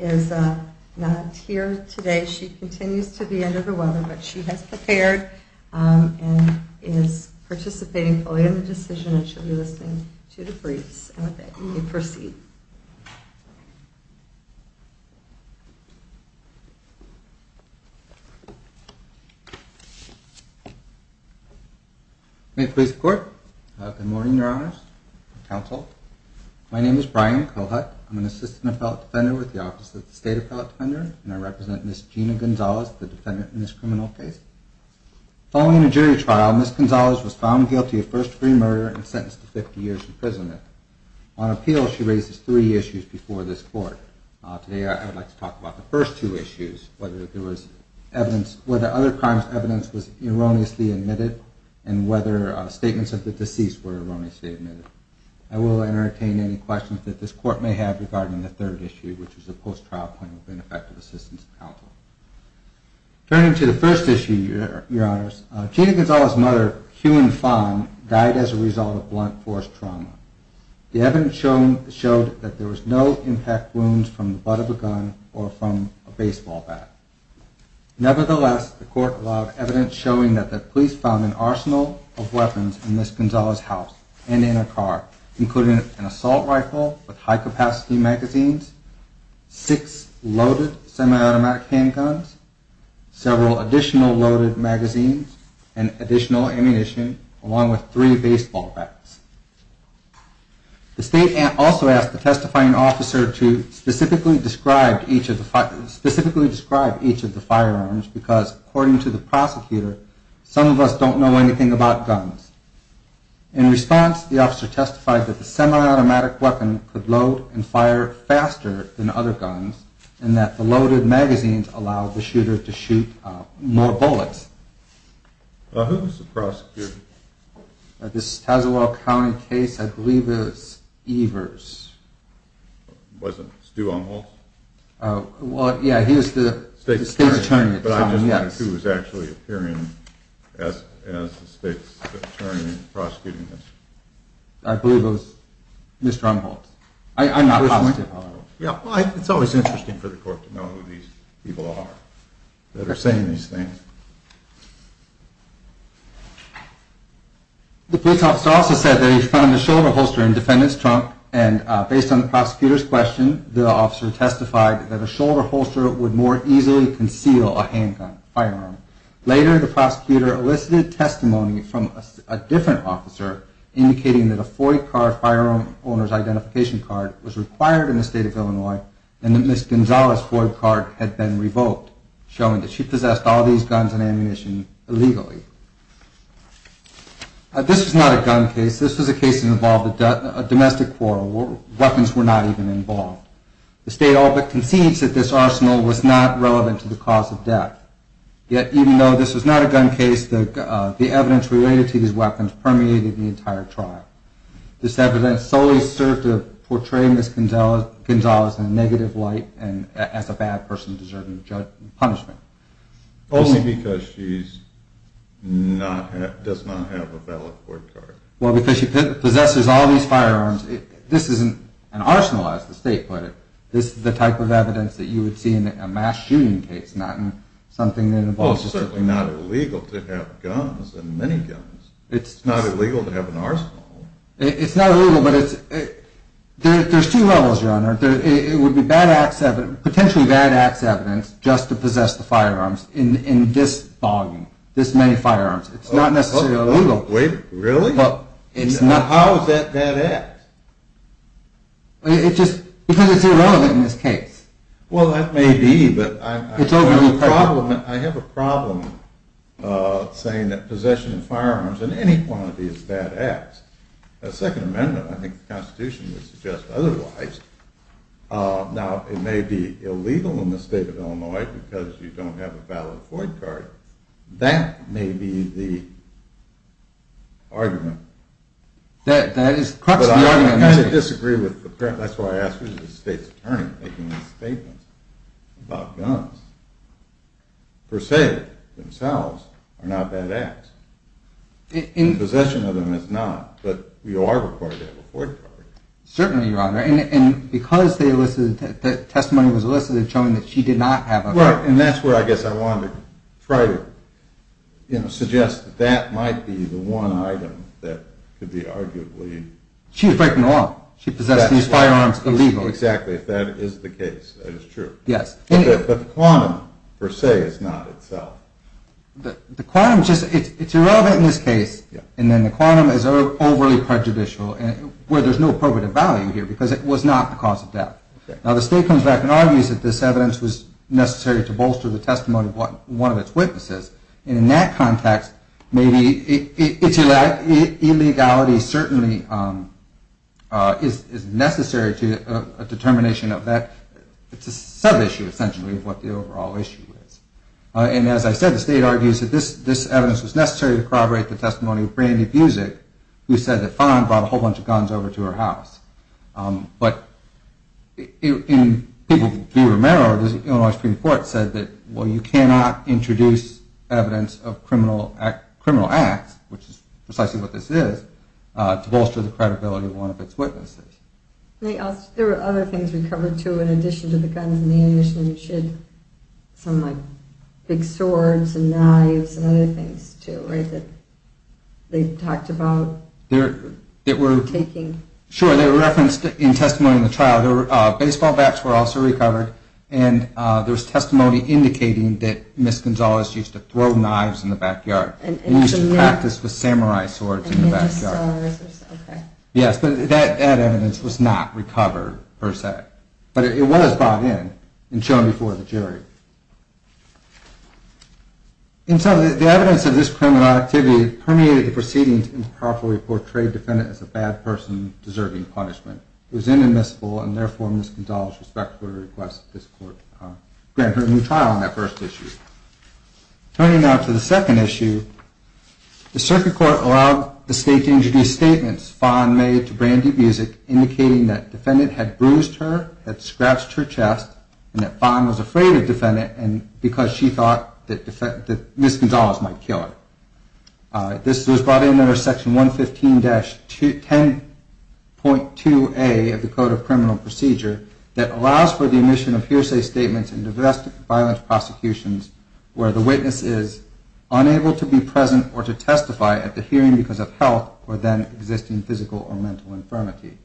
is not here today. She continues to be under the weather, but she has prepared and is participating in the decision and she will be listening to the briefs and with that you may proceed. May it please the court. Good morning, your honors, counsel. My name is Brian Cohut. I'm an assistant appellate defender with the office of the state appellate defender and I represent Ms. Gina Gonzalez, the defendant in this criminal case. Following a jury trial Ms. Gonzalez was found guilty of first degree murder and sentenced to 50 years in prison. On appeal she raises three issues before this court. Today I would like to talk about the first two issues, whether other crimes evidence was erroneously admitted and whether statements of the deceased were erroneously admitted. I will entertain any questions that this court may have regarding the third issue, which is a post-trial plan with an effective assistance counsel. Turning to the first issue, your honors, Gina Gonzalez's mother, Hughyn Fong, died as a result of blunt force trauma. The evidence showed that there was no impact wounds from the butt of a gun or from a baseball bat. Nevertheless, the court allowed evidence showing that the police found an arsenal of weapons in Ms. Gonzalez's house and in her car, including an assault rifle with high-capacity magazines, six loaded semi-automatic handguns, several additional loaded magazines, and additional ammunition along with three baseball bats. The state also asked the testifying officer to specifically describe each of the firearms because, according to the prosecutor, some of us don't know anything about guns. In response, the officer testified that the semi-automatic weapon could load and fire faster than other guns and that the loaded magazines allowed the shooter to shoot more bullets. Who was the prosecutor? This Tazewell County case, I believe it was Evers. Was it Stu Umholtz? Well, yeah, he was the state's attorney at the time, yes. But I'm just wondering who was actually appearing as the state's attorney prosecuting this. I believe it was Mr. Umholtz. I'm not positive, however. It's always interesting for the court to know who these people are that are saying these things. The police officer also said that he found a shoulder holster in defendant's trunk, and based on the prosecutor's question, the officer testified that a shoulder holster would more easily conceal a handgun firearm. Later, the prosecutor elicited testimony from a different officer indicating that a FOID card, Firearm Owner's Identification Card, was required in the state of Illinois and that Ms. Gonzalez' FOID card had been revoked, showing that she possessed all these guns and ammunition illegally. This was not a gun case. This was a case that involved a domestic quarrel where weapons were not even involved. The state all but concedes that this arsenal was not relevant to the cause of death. Yet, even though this was not a gun case, the evidence related to these weapons permeated the entire trial. This evidence solely served to portray Ms. Gonzalez in a negative light and as a bad person deserving of punishment. Only because she does not have a valid FOID card. Well, because she possesses all these firearms, this isn't an arsenal as the state put it. This is the type of evidence that you would see in a mass shooting case, not in something that involves... Well, it's certainly not illegal to have guns and miniguns. It's not illegal to have an arsenal. It's not illegal, but it's... There's two levels, Your Honor. It would be potentially bad acts evidence just to possess the firearms in this fogging, this many firearms. It's not necessarily illegal. Wait, really? How is that bad acts? Because it's irrelevant in this case. Well, that may be, but I have a problem saying that possession of firearms in any quantity is bad acts. A second amendment, I think the constitution would suggest otherwise. Now, it may be illegal in the state of Illinois because you don't have a valid FOID card. That may be the argument. That is... But you are required to have a FOID card. Certainly, Your Honor. And because the testimony was elicited showing that she did not have a... Well, and that's where I guess I wanted to try to suggest that that might be the one item that could be arguably... She was breaking the law. She possessed these firearms illegally. Exactly. If that is the case, that is true. Yes. But the quantum, per se, is not itself. The quantum, it's irrelevant in this case. And then the quantum is overly prejudicial where there's no appropriate value here because it was not the cause of death. Now, the state comes back and argues that this evidence was necessary to bolster the testimony of one of its witnesses. And in that context, maybe its illegality certainly is necessary to a determination of that. It's a sub-issue, essentially, of what the overall issue is. And as I said, the state argues that this evidence was necessary to corroborate the testimony of Brandy Buzik, who said that Fon brought a whole bunch of guns over to her house. But people can be remembered. The Illinois Supreme Court said that, well, you cannot introduce evidence of criminal acts, which is precisely what this is, to bolster the credibility of one of its witnesses. There were other things recovered, too, in addition to the guns and ammunition. You mentioned some big swords and knives and other things, too, that they talked about taking. Sure. They were referenced in testimony in the trial. Baseball bats were also recovered. And there was testimony indicating that Ms. Gonzalez used to throw knives in the backyard and used to practice with samurai swords in the backyard. And ninja stars. Yes, but that evidence was not recovered, per se. But it was brought in and shown before the jury. And so the evidence of this criminal activity permeated the proceedings and powerfully portrayed the defendant as a bad person deserving punishment. It was inadmissible, and therefore Ms. Gonzalez respectfully requests that this court grant her a new trial on that first issue. Turning now to the second issue, the circuit court allowed the state to introduce statements Fon made to Brandy Music indicating that the defendant had bruised her, had scratched her chest, and that Fon was afraid of the defendant because she thought that Ms. Gonzalez might kill her. This was brought in under Section 115-10.2a of the Code of Criminal Procedure that allows for the admission of hearsay statements in domestic violence prosecutions where the witness is unable to be present or to testify at the hearing because of health or then existing physical or mental infirmity.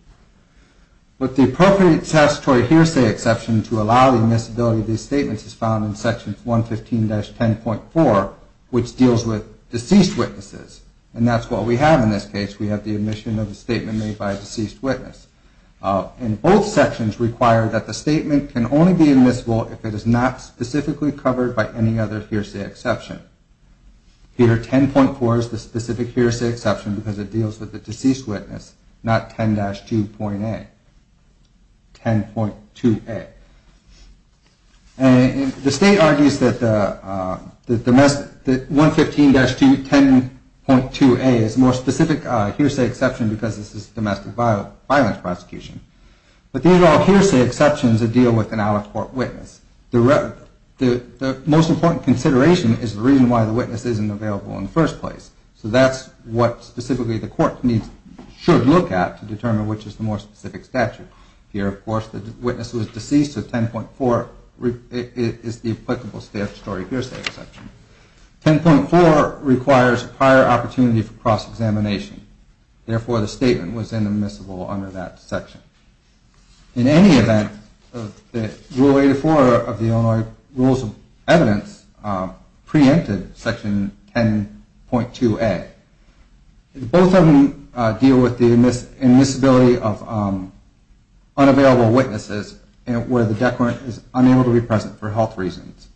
But the appropriate statutory hearsay exception to allow the admissibility of these statements is found in Section 115-10.4, which deals with deceased witnesses. And that's what we have in this case. We have the admission of a statement made by a deceased witness. And both sections require that the statement can only be admissible if it is not specifically covered by any other hearsay exception. Here, 10.4 is the specific hearsay exception because it deals with the deceased witness, not 10-2.a. 10.2a. The state argues that 115-10.2a is a more specific hearsay exception because this is a domestic violence prosecution. But these are all hearsay exceptions that deal with an out-of-court witness. The most important consideration is the reason why the witness isn't available in the first place. So that's what specifically the court should look at to determine which is the more specific statute. Here, of course, the witness was deceased, so 10.4 is the applicable statutory hearsay exception. 10.4 requires prior opportunity for cross-examination. Therefore, the statement was inadmissible under that section. In any event, Rule 84 of the Illinois Rules of Evidence preempted Section 10.2a. Both of them deal with the admissibility of unavailable witnesses where the decorant is unable to be present for health reasons.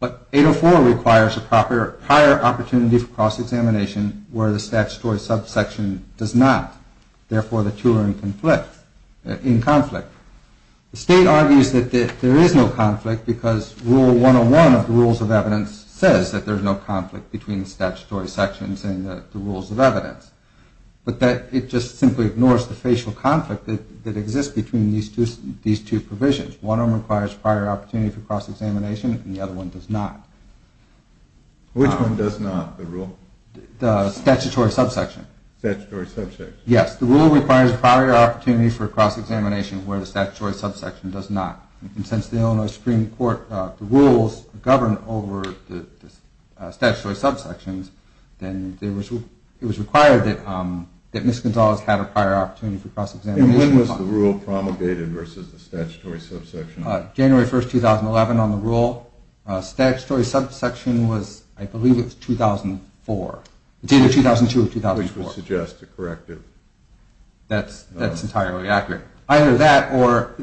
But 804 requires a prior opportunity for cross-examination where the statutory subsection does not. Therefore, the two are in conflict. The state argues that there is no conflict because Rule 101 of the Rules of Evidence says that there is no conflict between the statutory sections and the Rules of Evidence. But it just simply ignores the facial conflict that exists between these two provisions. One of them requires prior opportunity for cross-examination and the other one does not. Which one does not, the Rule? The statutory subsection. Statutory subsection. Yes, the Rule requires prior opportunity for cross-examination where the statutory subsection does not. And since the Illinois Supreme Court rules govern over the statutory subsections, then it was required that Ms. Gonzalez had a prior opportunity for cross-examination. And when was the Rule promulgated versus the statutory subsection? January 1, 2011 on the Rule. Statutory subsection was, I believe it was 2004. It's either 2002 or 2004. Which would suggest a corrective. That's entirely accurate. Either that or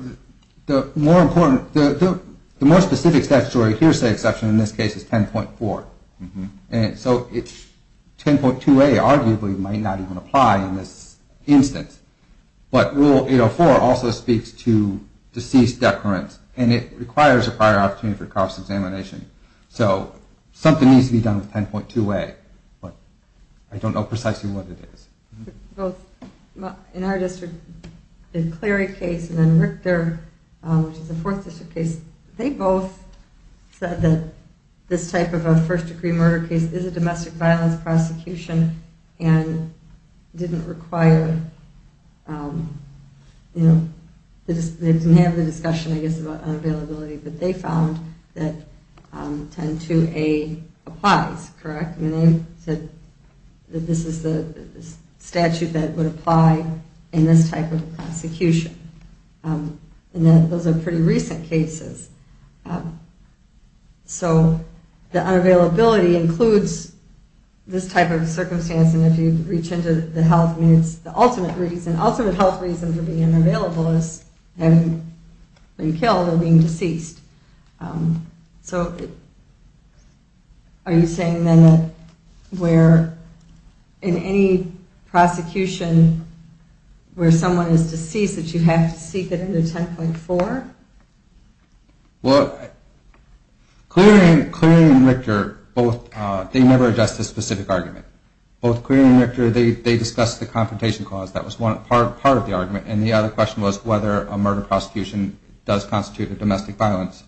the more specific statutory hearsay exception in this case is 10.4. And so 10.2a arguably might not even apply in this instance. But Rule 804 also speaks to deceased decorants, and it requires a prior opportunity for cross-examination. So something needs to be done with 10.2a, but I don't know precisely what it is. In our district, the Clery case and then Richter, which is a Fourth District case, they both said that this type of a first-degree murder case is a domestic violence prosecution and didn't require, you know, they didn't have the discussion, I guess, about unavailability, but they found that 10.2a applies, correct? I mean, they said that this is the statute that would apply in this type of a prosecution. And those are pretty recent cases. So the unavailability includes this type of a circumstance, and if you reach into the health needs, the ultimate reason, ultimate health reason for being unavailable is having been killed or being deceased. So are you saying then that where in any prosecution where someone is deceased that you have to seek it under 10.4? Well, Clery and Richter, they never addressed this specific argument. Both Clery and Richter, they discussed the confrontation clause. That was one part of the argument, and the other question was whether a murder prosecution does constitute a domestic violence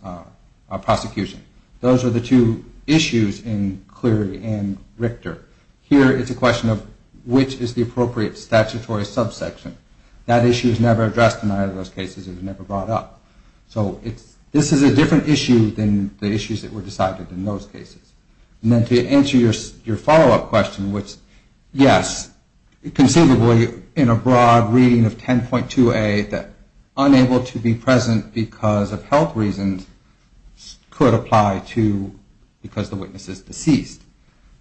prosecution. Those are the two issues in Clery and Richter. Here it's a question of which is the appropriate statutory subsection. That issue is never addressed in either of those cases. It was never brought up. So this is a different issue than the issues that were decided in those cases. And then to answer your follow-up question, which, yes, conceivably, in a broad reading of 10.2a, that unable to be present because of health reasons could apply to because the witness is deceased.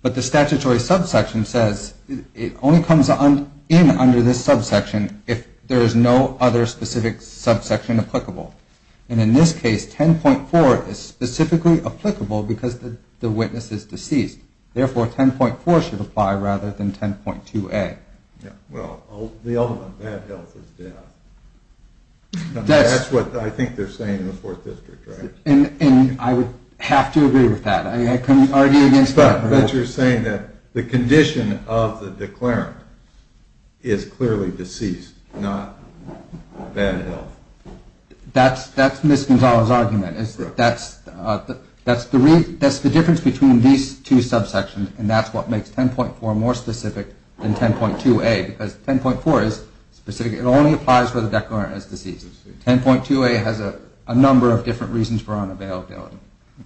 But the statutory subsection says it only comes in under this subsection if there is no other specific subsection applicable. And in this case, 10.4 is specifically applicable because the witness is deceased. Therefore, 10.4 should apply rather than 10.2a. Well, the ultimate bad health is death. That's what I think they're saying in the Fourth District, right? And I would have to agree with that. I couldn't argue against that. But you're saying that the condition of the declarant is clearly deceased, not bad health. That's Ms. Gonzales' argument. That's the difference between these two subsections, and that's what makes 10.4 more specific than 10.2a because 10.4 is specific. It only applies for the declarant as deceased. 10.2a has a number of different reasons for unavailability.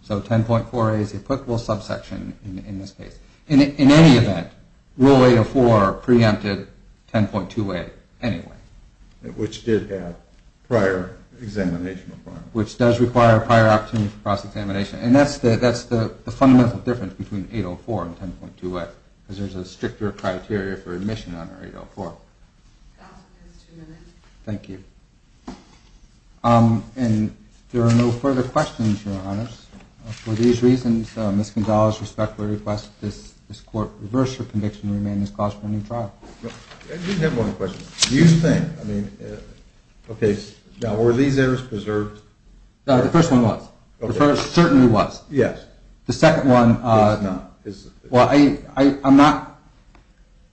So 10.4a is the applicable subsection in this case. In any event, Rule 804 preempted 10.2a anyway. Which did have prior examination requirements. Which does require prior opportunity for cross-examination. And that's the fundamental difference between 804 and 10.2a, because there's a stricter criteria for admission under 804. That's two minutes. Thank you. And if there are no further questions, Your Honors, for these reasons, Ms. Gonzales respectfully requests that this Court reverse her conviction and remain in this class for a new trial. I do have one question. Do you think, I mean, okay, were these errors preserved? The first one was. The first certainly was. Yes. The second one, well, I'm not,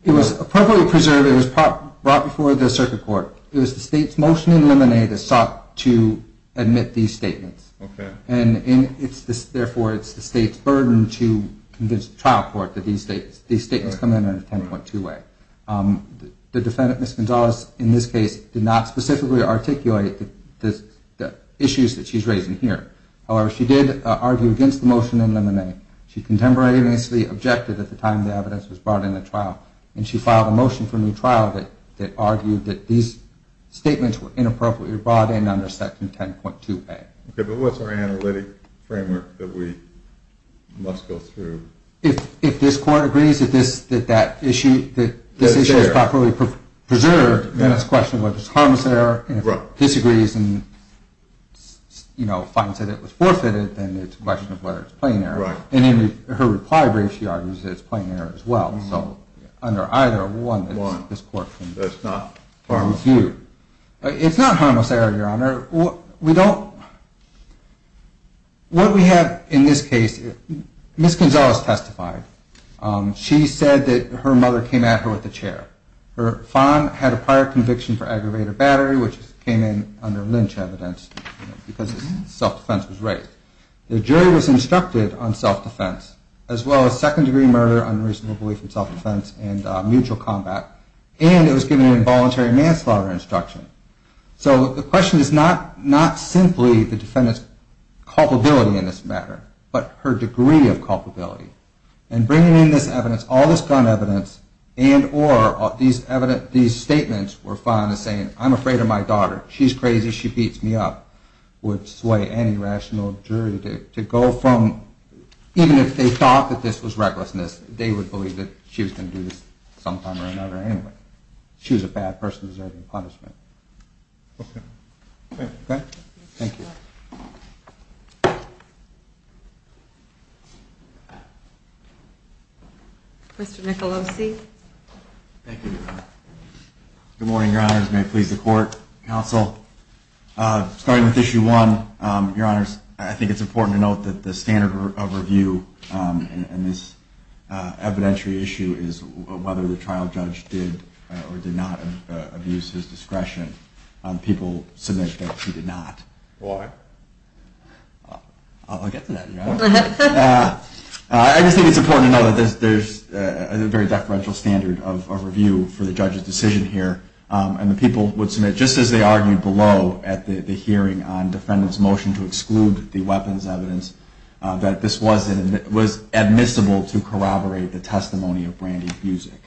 it was appropriately preserved. It was brought before the Circuit Court. It was the State's motion in limine that sought to admit these statements. Okay. And therefore, it's the State's burden to convince the trial court that these statements come in under 10.2a. The defendant, Ms. Gonzales, in this case, did not specifically articulate the issues that she's raising here. However, she did argue against the motion in limine. She contemporaneously objected at the time the evidence was brought in the trial, and she filed a motion for a new trial that argued that these statements were inappropriately brought in under Section 10.2a. Okay. But what's our analytic framework that we must go through? If this Court agrees that this issue is properly preserved, then it's a question of whether it's a harmless error. And if it disagrees and, you know, finds that it was forfeited, then it's a question of whether it's a plain error. And in her reply brief, she argues that it's a plain error as well. So under either one, this Court can review. It's not a harmless error, Your Honor. What we have in this case, Ms. Gonzales testified. She said that her mother came at her with a chair. Her father had a prior conviction for aggravated battery, which came in under Lynch evidence because his self-defense was raised. The jury was instructed on self-defense as well as second-degree murder, unreasonable belief in self-defense, and mutual combat, and it was given an involuntary manslaughter instruction. So the question is not simply the defendant's culpability in this matter, but her degree of culpability. And bringing in this evidence, all this gun evidence, and or these statements were fine as saying, I'm afraid of my daughter, she's crazy, she beats me up, would sway any rational jury to go from, even if they thought that this was recklessness, they would believe that she was going to do this sometime or another anyway. She was a bad person deserving punishment. Okay. Thank you. Mr. Nicolosi. Thank you. Good morning, Your Honors. May it please the Court, Counsel. Starting with issue one, Your Honors, I think it's important to note that the standard of review in this evidentiary issue is whether the trial judge did or did not abuse his discretion. People submit that he did not. Why? I'll get to that, Your Honors. I just think it's important to note that there's a very deferential standard of review for the judge's decision here, and the people would submit just as they argued below at the hearing on defendant's motion to exclude the weapons evidence, that this was admissible to corroborate the testimony of Brandy Buzik.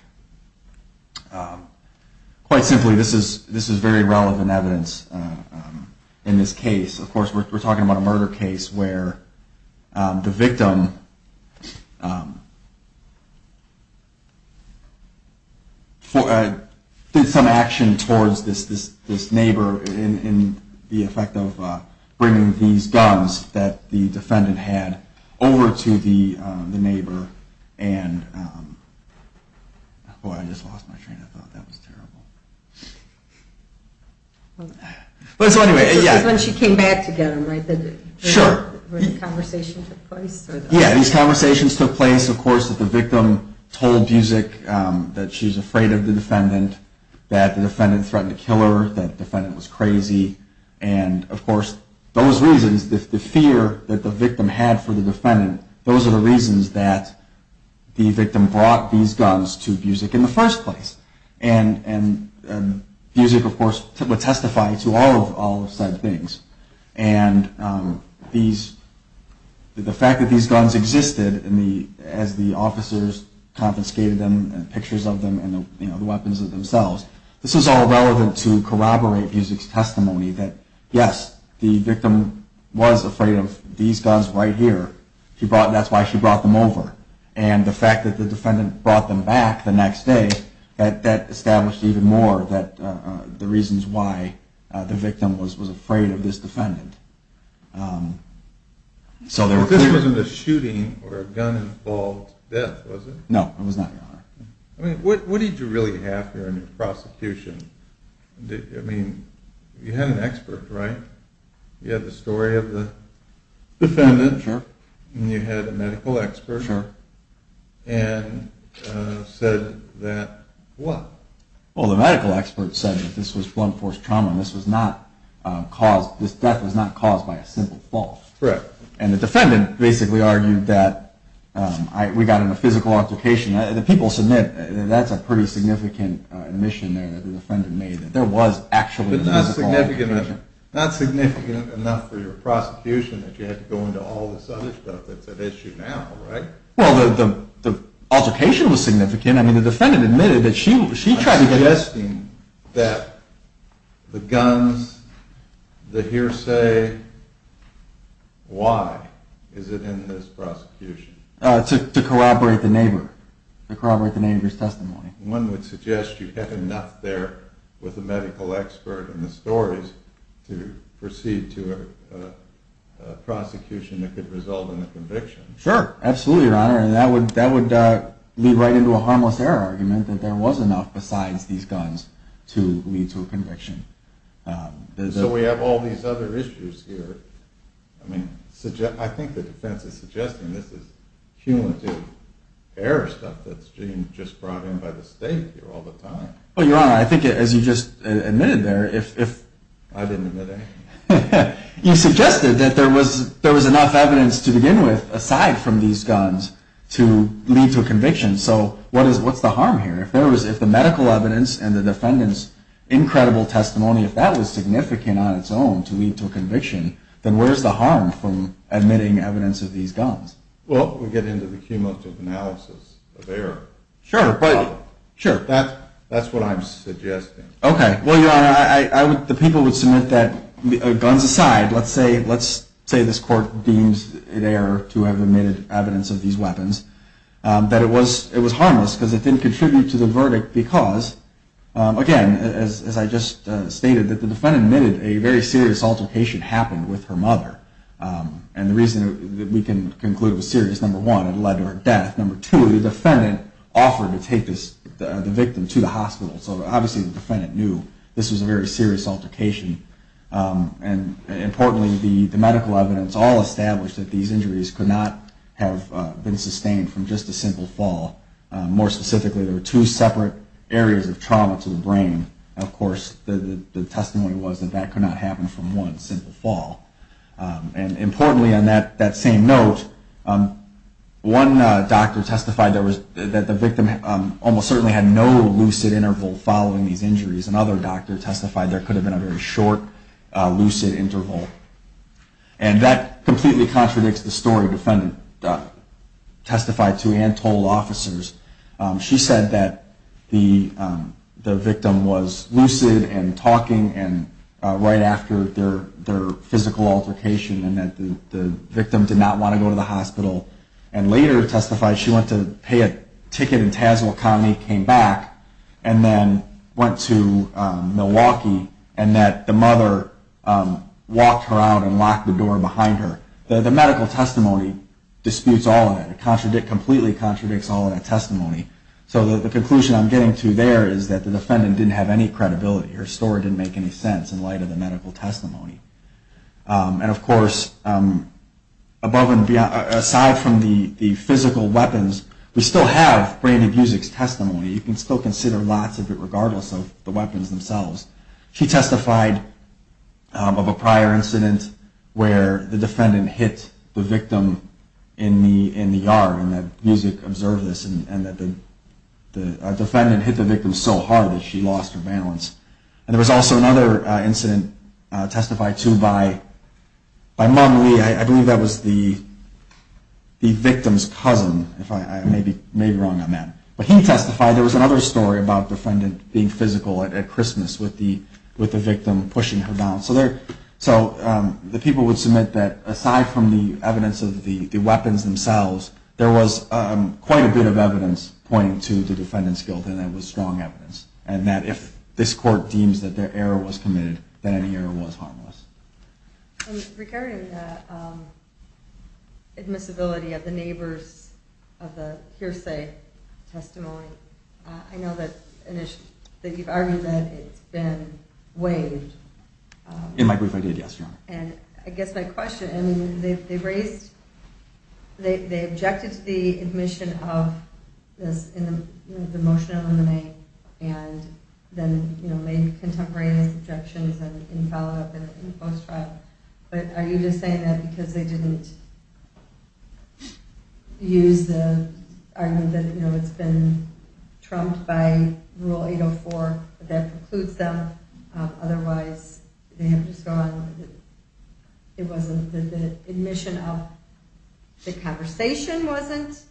Quite simply, this is very relevant evidence in this case. Of course, we're talking about a murder case where the victim did some action towards this neighbor in the effect of bringing these guns that the defendant had over to the neighbor. Boy, I just lost my train of thought. That was terrible. So anyway, yeah. This is when she came back to get them, right? Sure. Where the conversation took place? Yeah, these conversations took place, of course, that the victim told Buzik that she was afraid of the defendant, that the defendant threatened to kill her, that the defendant was crazy. And, of course, those reasons, the fear that the victim had for the defendant, those are the reasons that the victim brought these guns to Buzik in the first place. And Buzik, of course, would testify to all of said things. And the fact that these guns existed as the officers confiscated them and pictures of them and the weapons themselves, this is all relevant to corroborate Buzik's testimony that, yes, the victim was afraid of these guns right here. That's why she brought them over. And the fact that the defendant brought them back the next day, that established even more the reasons why the victim was afraid of this defendant. This wasn't a shooting or a gun-involved death, was it? No, it was not, Your Honor. I mean, what did you really have here in your prosecution? I mean, you had an expert, right? You had the story of the defendant. Sure. And you had a medical expert. Sure. And said that what? Well, the medical expert said that this was blunt force trauma and this death was not caused by a simple fault. Correct. And the defendant basically argued that we got in a physical altercation. The people submit that that's a pretty significant admission there that the defendant made that there was actually a physical altercation. But not significant enough for your prosecution that you had to go into all this other stuff that's at issue now, right? Well, the altercation was significant. I mean, the defendant admitted that she tried to get it. I'm suggesting that the guns, the hearsay, why is it in this prosecution? To corroborate the neighbor. To corroborate the neighbor's testimony. One would suggest you had enough there with the medical expert and the stories to proceed to a prosecution that could result in a conviction. Sure. Absolutely, Your Honor. And that would lead right into a harmless error argument that there was enough besides these guns to lead to a conviction. So we have all these other issues here. I mean, I think the defense is suggesting this is cumulative error stuff that's just brought in by the state here all the time. Well, Your Honor, I think as you just admitted there, if... I didn't admit anything. You suggested that there was enough evidence to begin with aside from these guns to lead to a conviction. So what's the harm here? If the medical evidence and the defendant's incredible testimony, if that was significant on its own to lead to a conviction, then where's the harm from admitting evidence of these guns? Well, we get into the cumulative analysis of error. Sure, but... Sure, that's what I'm suggesting. Okay. Well, Your Honor, the people would submit that, guns aside, let's say this court deems it error to have admitted evidence of these weapons, that it was harmless because it didn't contribute to the verdict because, again, as I just stated, that the defendant admitted a very serious altercation happened with her mother. And the reason that we can conclude it was serious, number one, it led to her death. Number two, the defendant offered to take the victim to the hospital. So obviously the defendant knew this was a very serious altercation. And importantly, the medical evidence all established that these injuries could not have been sustained from just a simple fall. More specifically, there were two separate areas of trauma to the brain. And, of course, the testimony was that that could not happen from one simple fall. And importantly, on that same note, one doctor testified that the victim almost certainly had no lucid interval following these injuries. Another doctor testified there could have been a very short lucid interval. And that completely contradicts the story the defendant testified to and told officers. She said that the victim was lucid and talking right after their physical altercation and that the victim did not want to go to the hospital. And later testified she went to pay a ticket in Tazewell County, came back, and then went to Milwaukee, and that the mother walked her out and locked the door behind her. The medical testimony disputes all of that. It completely contradicts all of that testimony. So the conclusion I'm getting to there is that the defendant didn't have any credibility. Her story didn't make any sense in light of the medical testimony. And, of course, aside from the physical weapons, we still have brain abuse as testimony. You can still consider lots of it regardless of the weapons themselves. She testified of a prior incident where the defendant hit the victim in the yard and that music observed this and that the defendant hit the victim so hard that she lost her balance. And there was also another incident testified to by Mom Lee. I believe that was the victim's cousin. I may be wrong on that. But he testified there was another story about the defendant being physical at Christmas with the victim pushing her down. So the people would submit that aside from the evidence of the weapons themselves, there was quite a bit of evidence pointing to the defendant's guilt, and that was strong evidence, and that if this court deems that their error was committed, then any error was harmless. In regarding the admissibility of the neighbors of the hearsay testimony, I know that you've argued that it's been waived. In my brief I did, yes, Your Honor. And I guess my question, I mean, they raised, they objected to the admission of this in the motion in the name and then made contemporary objections in follow-up and post-trial. But are you just saying that because they didn't use the argument that it's been trumped by Rule 804, that precludes them? Otherwise they have just gone, it wasn't the admission of the conversation wasn't?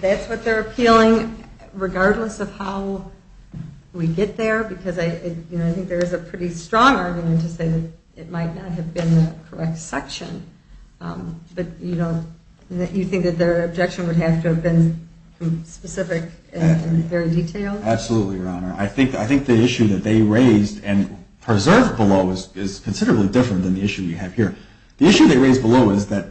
That's what they're appealing regardless of how we get there? Because I think there is a pretty strong argument to say that it might not have been the correct section. But you think that their objection would have to have been specific and very detailed? Absolutely, Your Honor. I think the issue that they raised and preserved below is considerably different than the issue you have here. The issue they raised below is that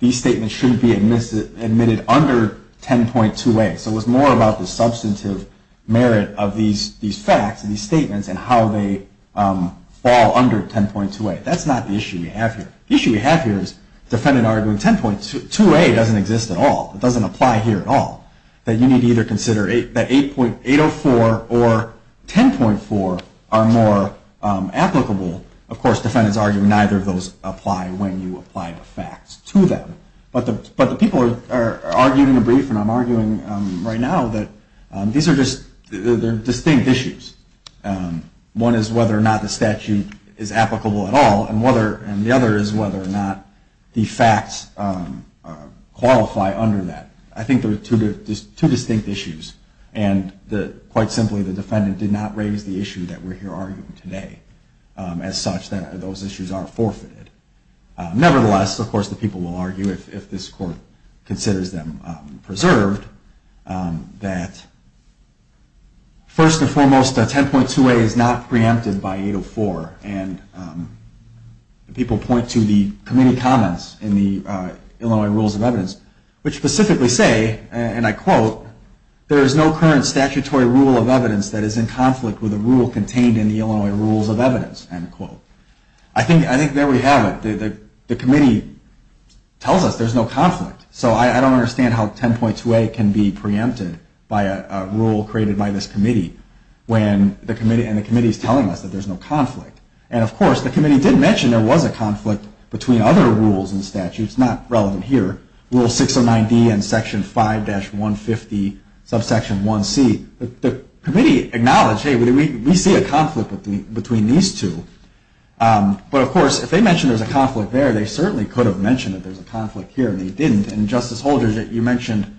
these statements shouldn't be admitted under 10.2a. So it was more about the substantive merit of these facts and these statements and how they fall under 10.2a. That's not the issue we have here. The issue we have here is the defendant arguing 10.2a doesn't exist at all. It doesn't apply here at all. That you need to either consider that 804 or 10.4 are more applicable. Of course, defendants argue neither of those apply when you apply the facts to them. But the people are arguing in a brief, and I'm arguing right now, that these are just distinct issues. One is whether or not the statute is applicable at all and the other is whether or not the facts qualify under that. I think there are two distinct issues, and quite simply the defendant did not raise the issue that we're here arguing today as such that those issues aren't forfeited. Nevertheless, of course, the people will argue, if this Court considers them preserved, that first and foremost, 10.2a is not preempted by 804 and people point to the committee comments in the Illinois Rules of Evidence which specifically say, and I quote, there is no current statutory rule of evidence that is in conflict with a rule contained in the Illinois Rules of Evidence, end quote. I think there we have it. The committee tells us there's no conflict, so I don't understand how 10.2a can be preempted by a rule created by this committee when the committee is telling us that there's no conflict. And of course, the committee did mention there was a conflict between other rules and statutes, not relevant here, Rule 609D and Section 5-150, Subsection 1c. The committee acknowledged, hey, we see a conflict between these two. But of course, if they mentioned there's a conflict there, they certainly could have mentioned that there's a conflict here, and they didn't. And Justice Holder, you mentioned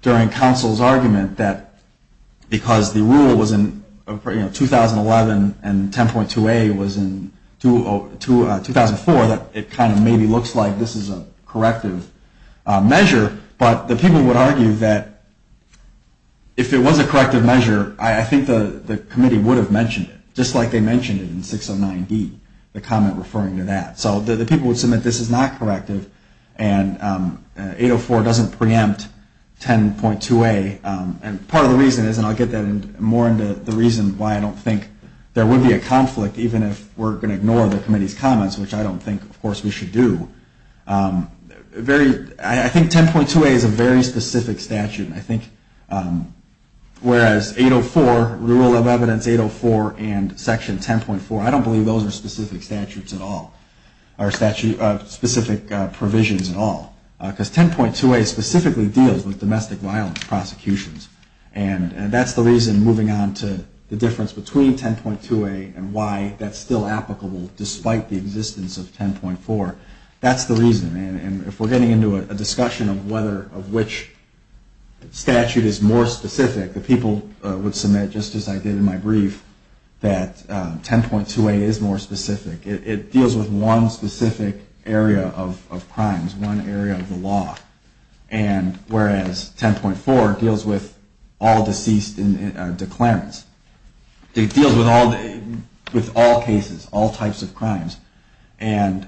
during counsel's argument that because the rule was in 2011 and 10.2a was in 2004, that it kind of maybe looks like this is a corrective measure. But the people would argue that if it was a corrective measure, I think the committee would have mentioned it, just like they mentioned it in 609D, the comment referring to that. So the people would say that this is not corrective, and 804 doesn't preempt 10.2a. And part of the reason is, and I'll get more into the reason why I don't think there would be a conflict, even if we're going to ignore the committee's comments, which I don't think, of course, we should do. I think 10.2a is a very specific statute. Whereas 804, Rule of Evidence 804 and Section 10.4, I don't believe those are specific statutes at all, or specific provisions at all. Because 10.2a specifically deals with domestic violence prosecutions. And that's the reason, moving on to the difference between 10.2a and why that's still applicable despite the existence of 10.4. That's the reason. And if we're getting into a discussion of which statute is more specific, the people would submit, just as I did in my brief, that 10.2a is more specific. It deals with one specific area of crimes, one area of the law. And whereas 10.4 deals with all deceased declarants. It deals with all cases, all types of crimes. And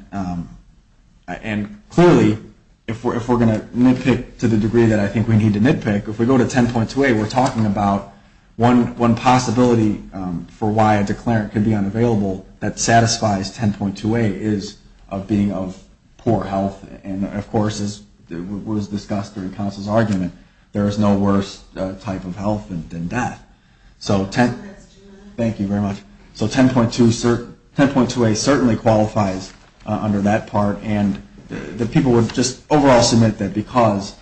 clearly, if we're going to nitpick to the degree that I think we need to nitpick, if we go to 10.2a, we're talking about one possibility for why a declarant can be unavailable that satisfies 10.2a is of being of poor health. And of course, as was discussed during counsel's argument, there is no worse type of health than death. Thank you very much. So 10.2a certainly qualifies under that part. And the people would just overall submit that because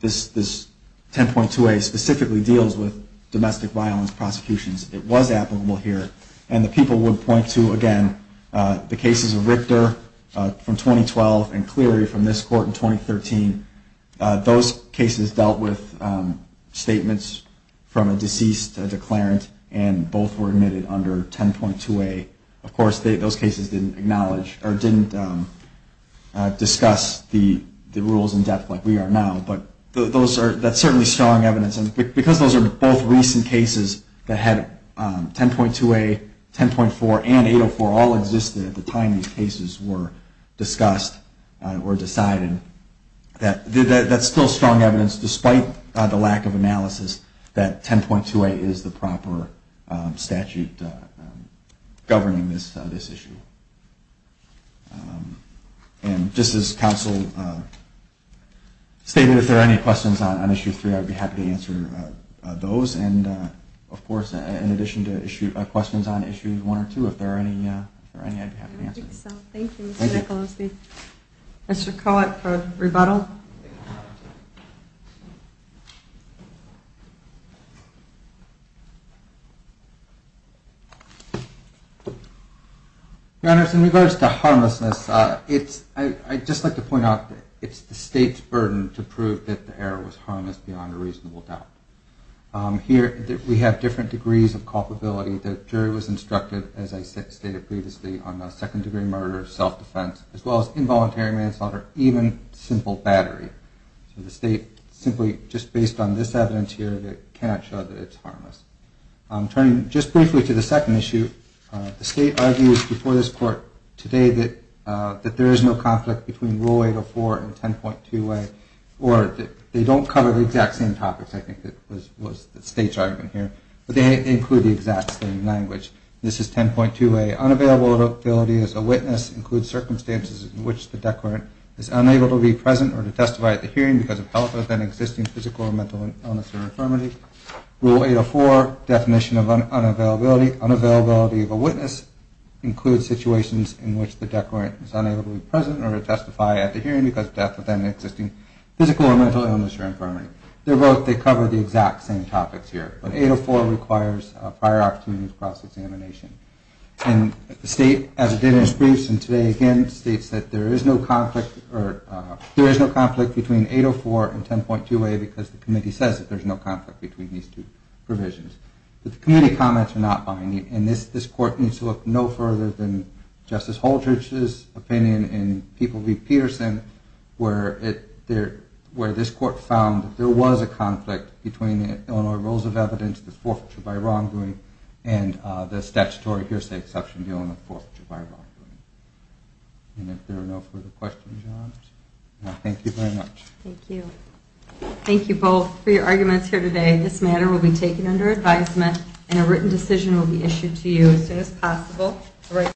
this 10.2a specifically deals with domestic violence prosecutions, it was applicable here. And the people would point to, again, the cases of Richter from 2012 and Cleary from this court in 2013. Those cases dealt with statements from a deceased declarant, and both were admitted under 10.2a. Of course, those cases didn't acknowledge or didn't discuss the rules in depth like we are now. But that's certainly strong evidence. And because those are both recent cases that had 10.2a, 10.4, and 804 all existed at the time these cases were discussed or decided, that's still strong evidence, despite the lack of analysis, that 10.2a is the proper statute governing this issue. And just as counsel stated, if there are any questions on Issue 3, I'd be happy to answer those. And of course, in addition to questions on Issue 1 or 2, if there are any, I'd be happy to answer them. I think so. Thank you, Mr. Nicolosi. Mr. Kohut for rebuttal. Your Honors, in regards to harmlessness, I'd just like to point out that it's the State's burden to prove that the error was harmless beyond a reasonable doubt. Here we have different degrees of culpability. The jury was instructed, as I stated previously, on a second-degree murder, self-defense, as well as involuntary manslaughter, even simple battery. So the State, simply just based on this evidence here, cannot show that it's harmless. Turning just briefly to the second issue, the State argues before this Court today that there is no conflict between Rule 804 and 10.2a, or they don't cover the exact same topics, I think was the State's argument here, but they include the exact same language. This is 10.2a. Unavailability as a witness includes circumstances in which the declarant is unable to be present or to testify at the hearing because of health or then existing physical or mental illness or infirmity. Rule 804, definition of unavailability, unavailability of a witness includes situations in which the declarant is unable to be present or to testify at the hearing because of death or then existing physical or mental illness or infirmity. They're both, they cover the exact same topics here. But 804 requires prior opportunity for cross-examination. And the State, as it did in its briefs and today again, states that there is no conflict between 804 and 10.2a because the Committee says that there's no conflict between these two provisions. But the Committee comments are not binding, and this Court needs to look no further than Justice Holterich's opinion and People v. Peterson where this Court found that there was a conflict between the Illinois Rules of Evidence, the forfeiture by wrongdoing, and the statutory hearsay exception dealing with forfeiture by wrongdoing. And if there are no further questions or comments, thank you very much. Thank you. Thank you both for your arguments here today. This matter will be taken under advisement and a written decision will be issued to you as soon as possible.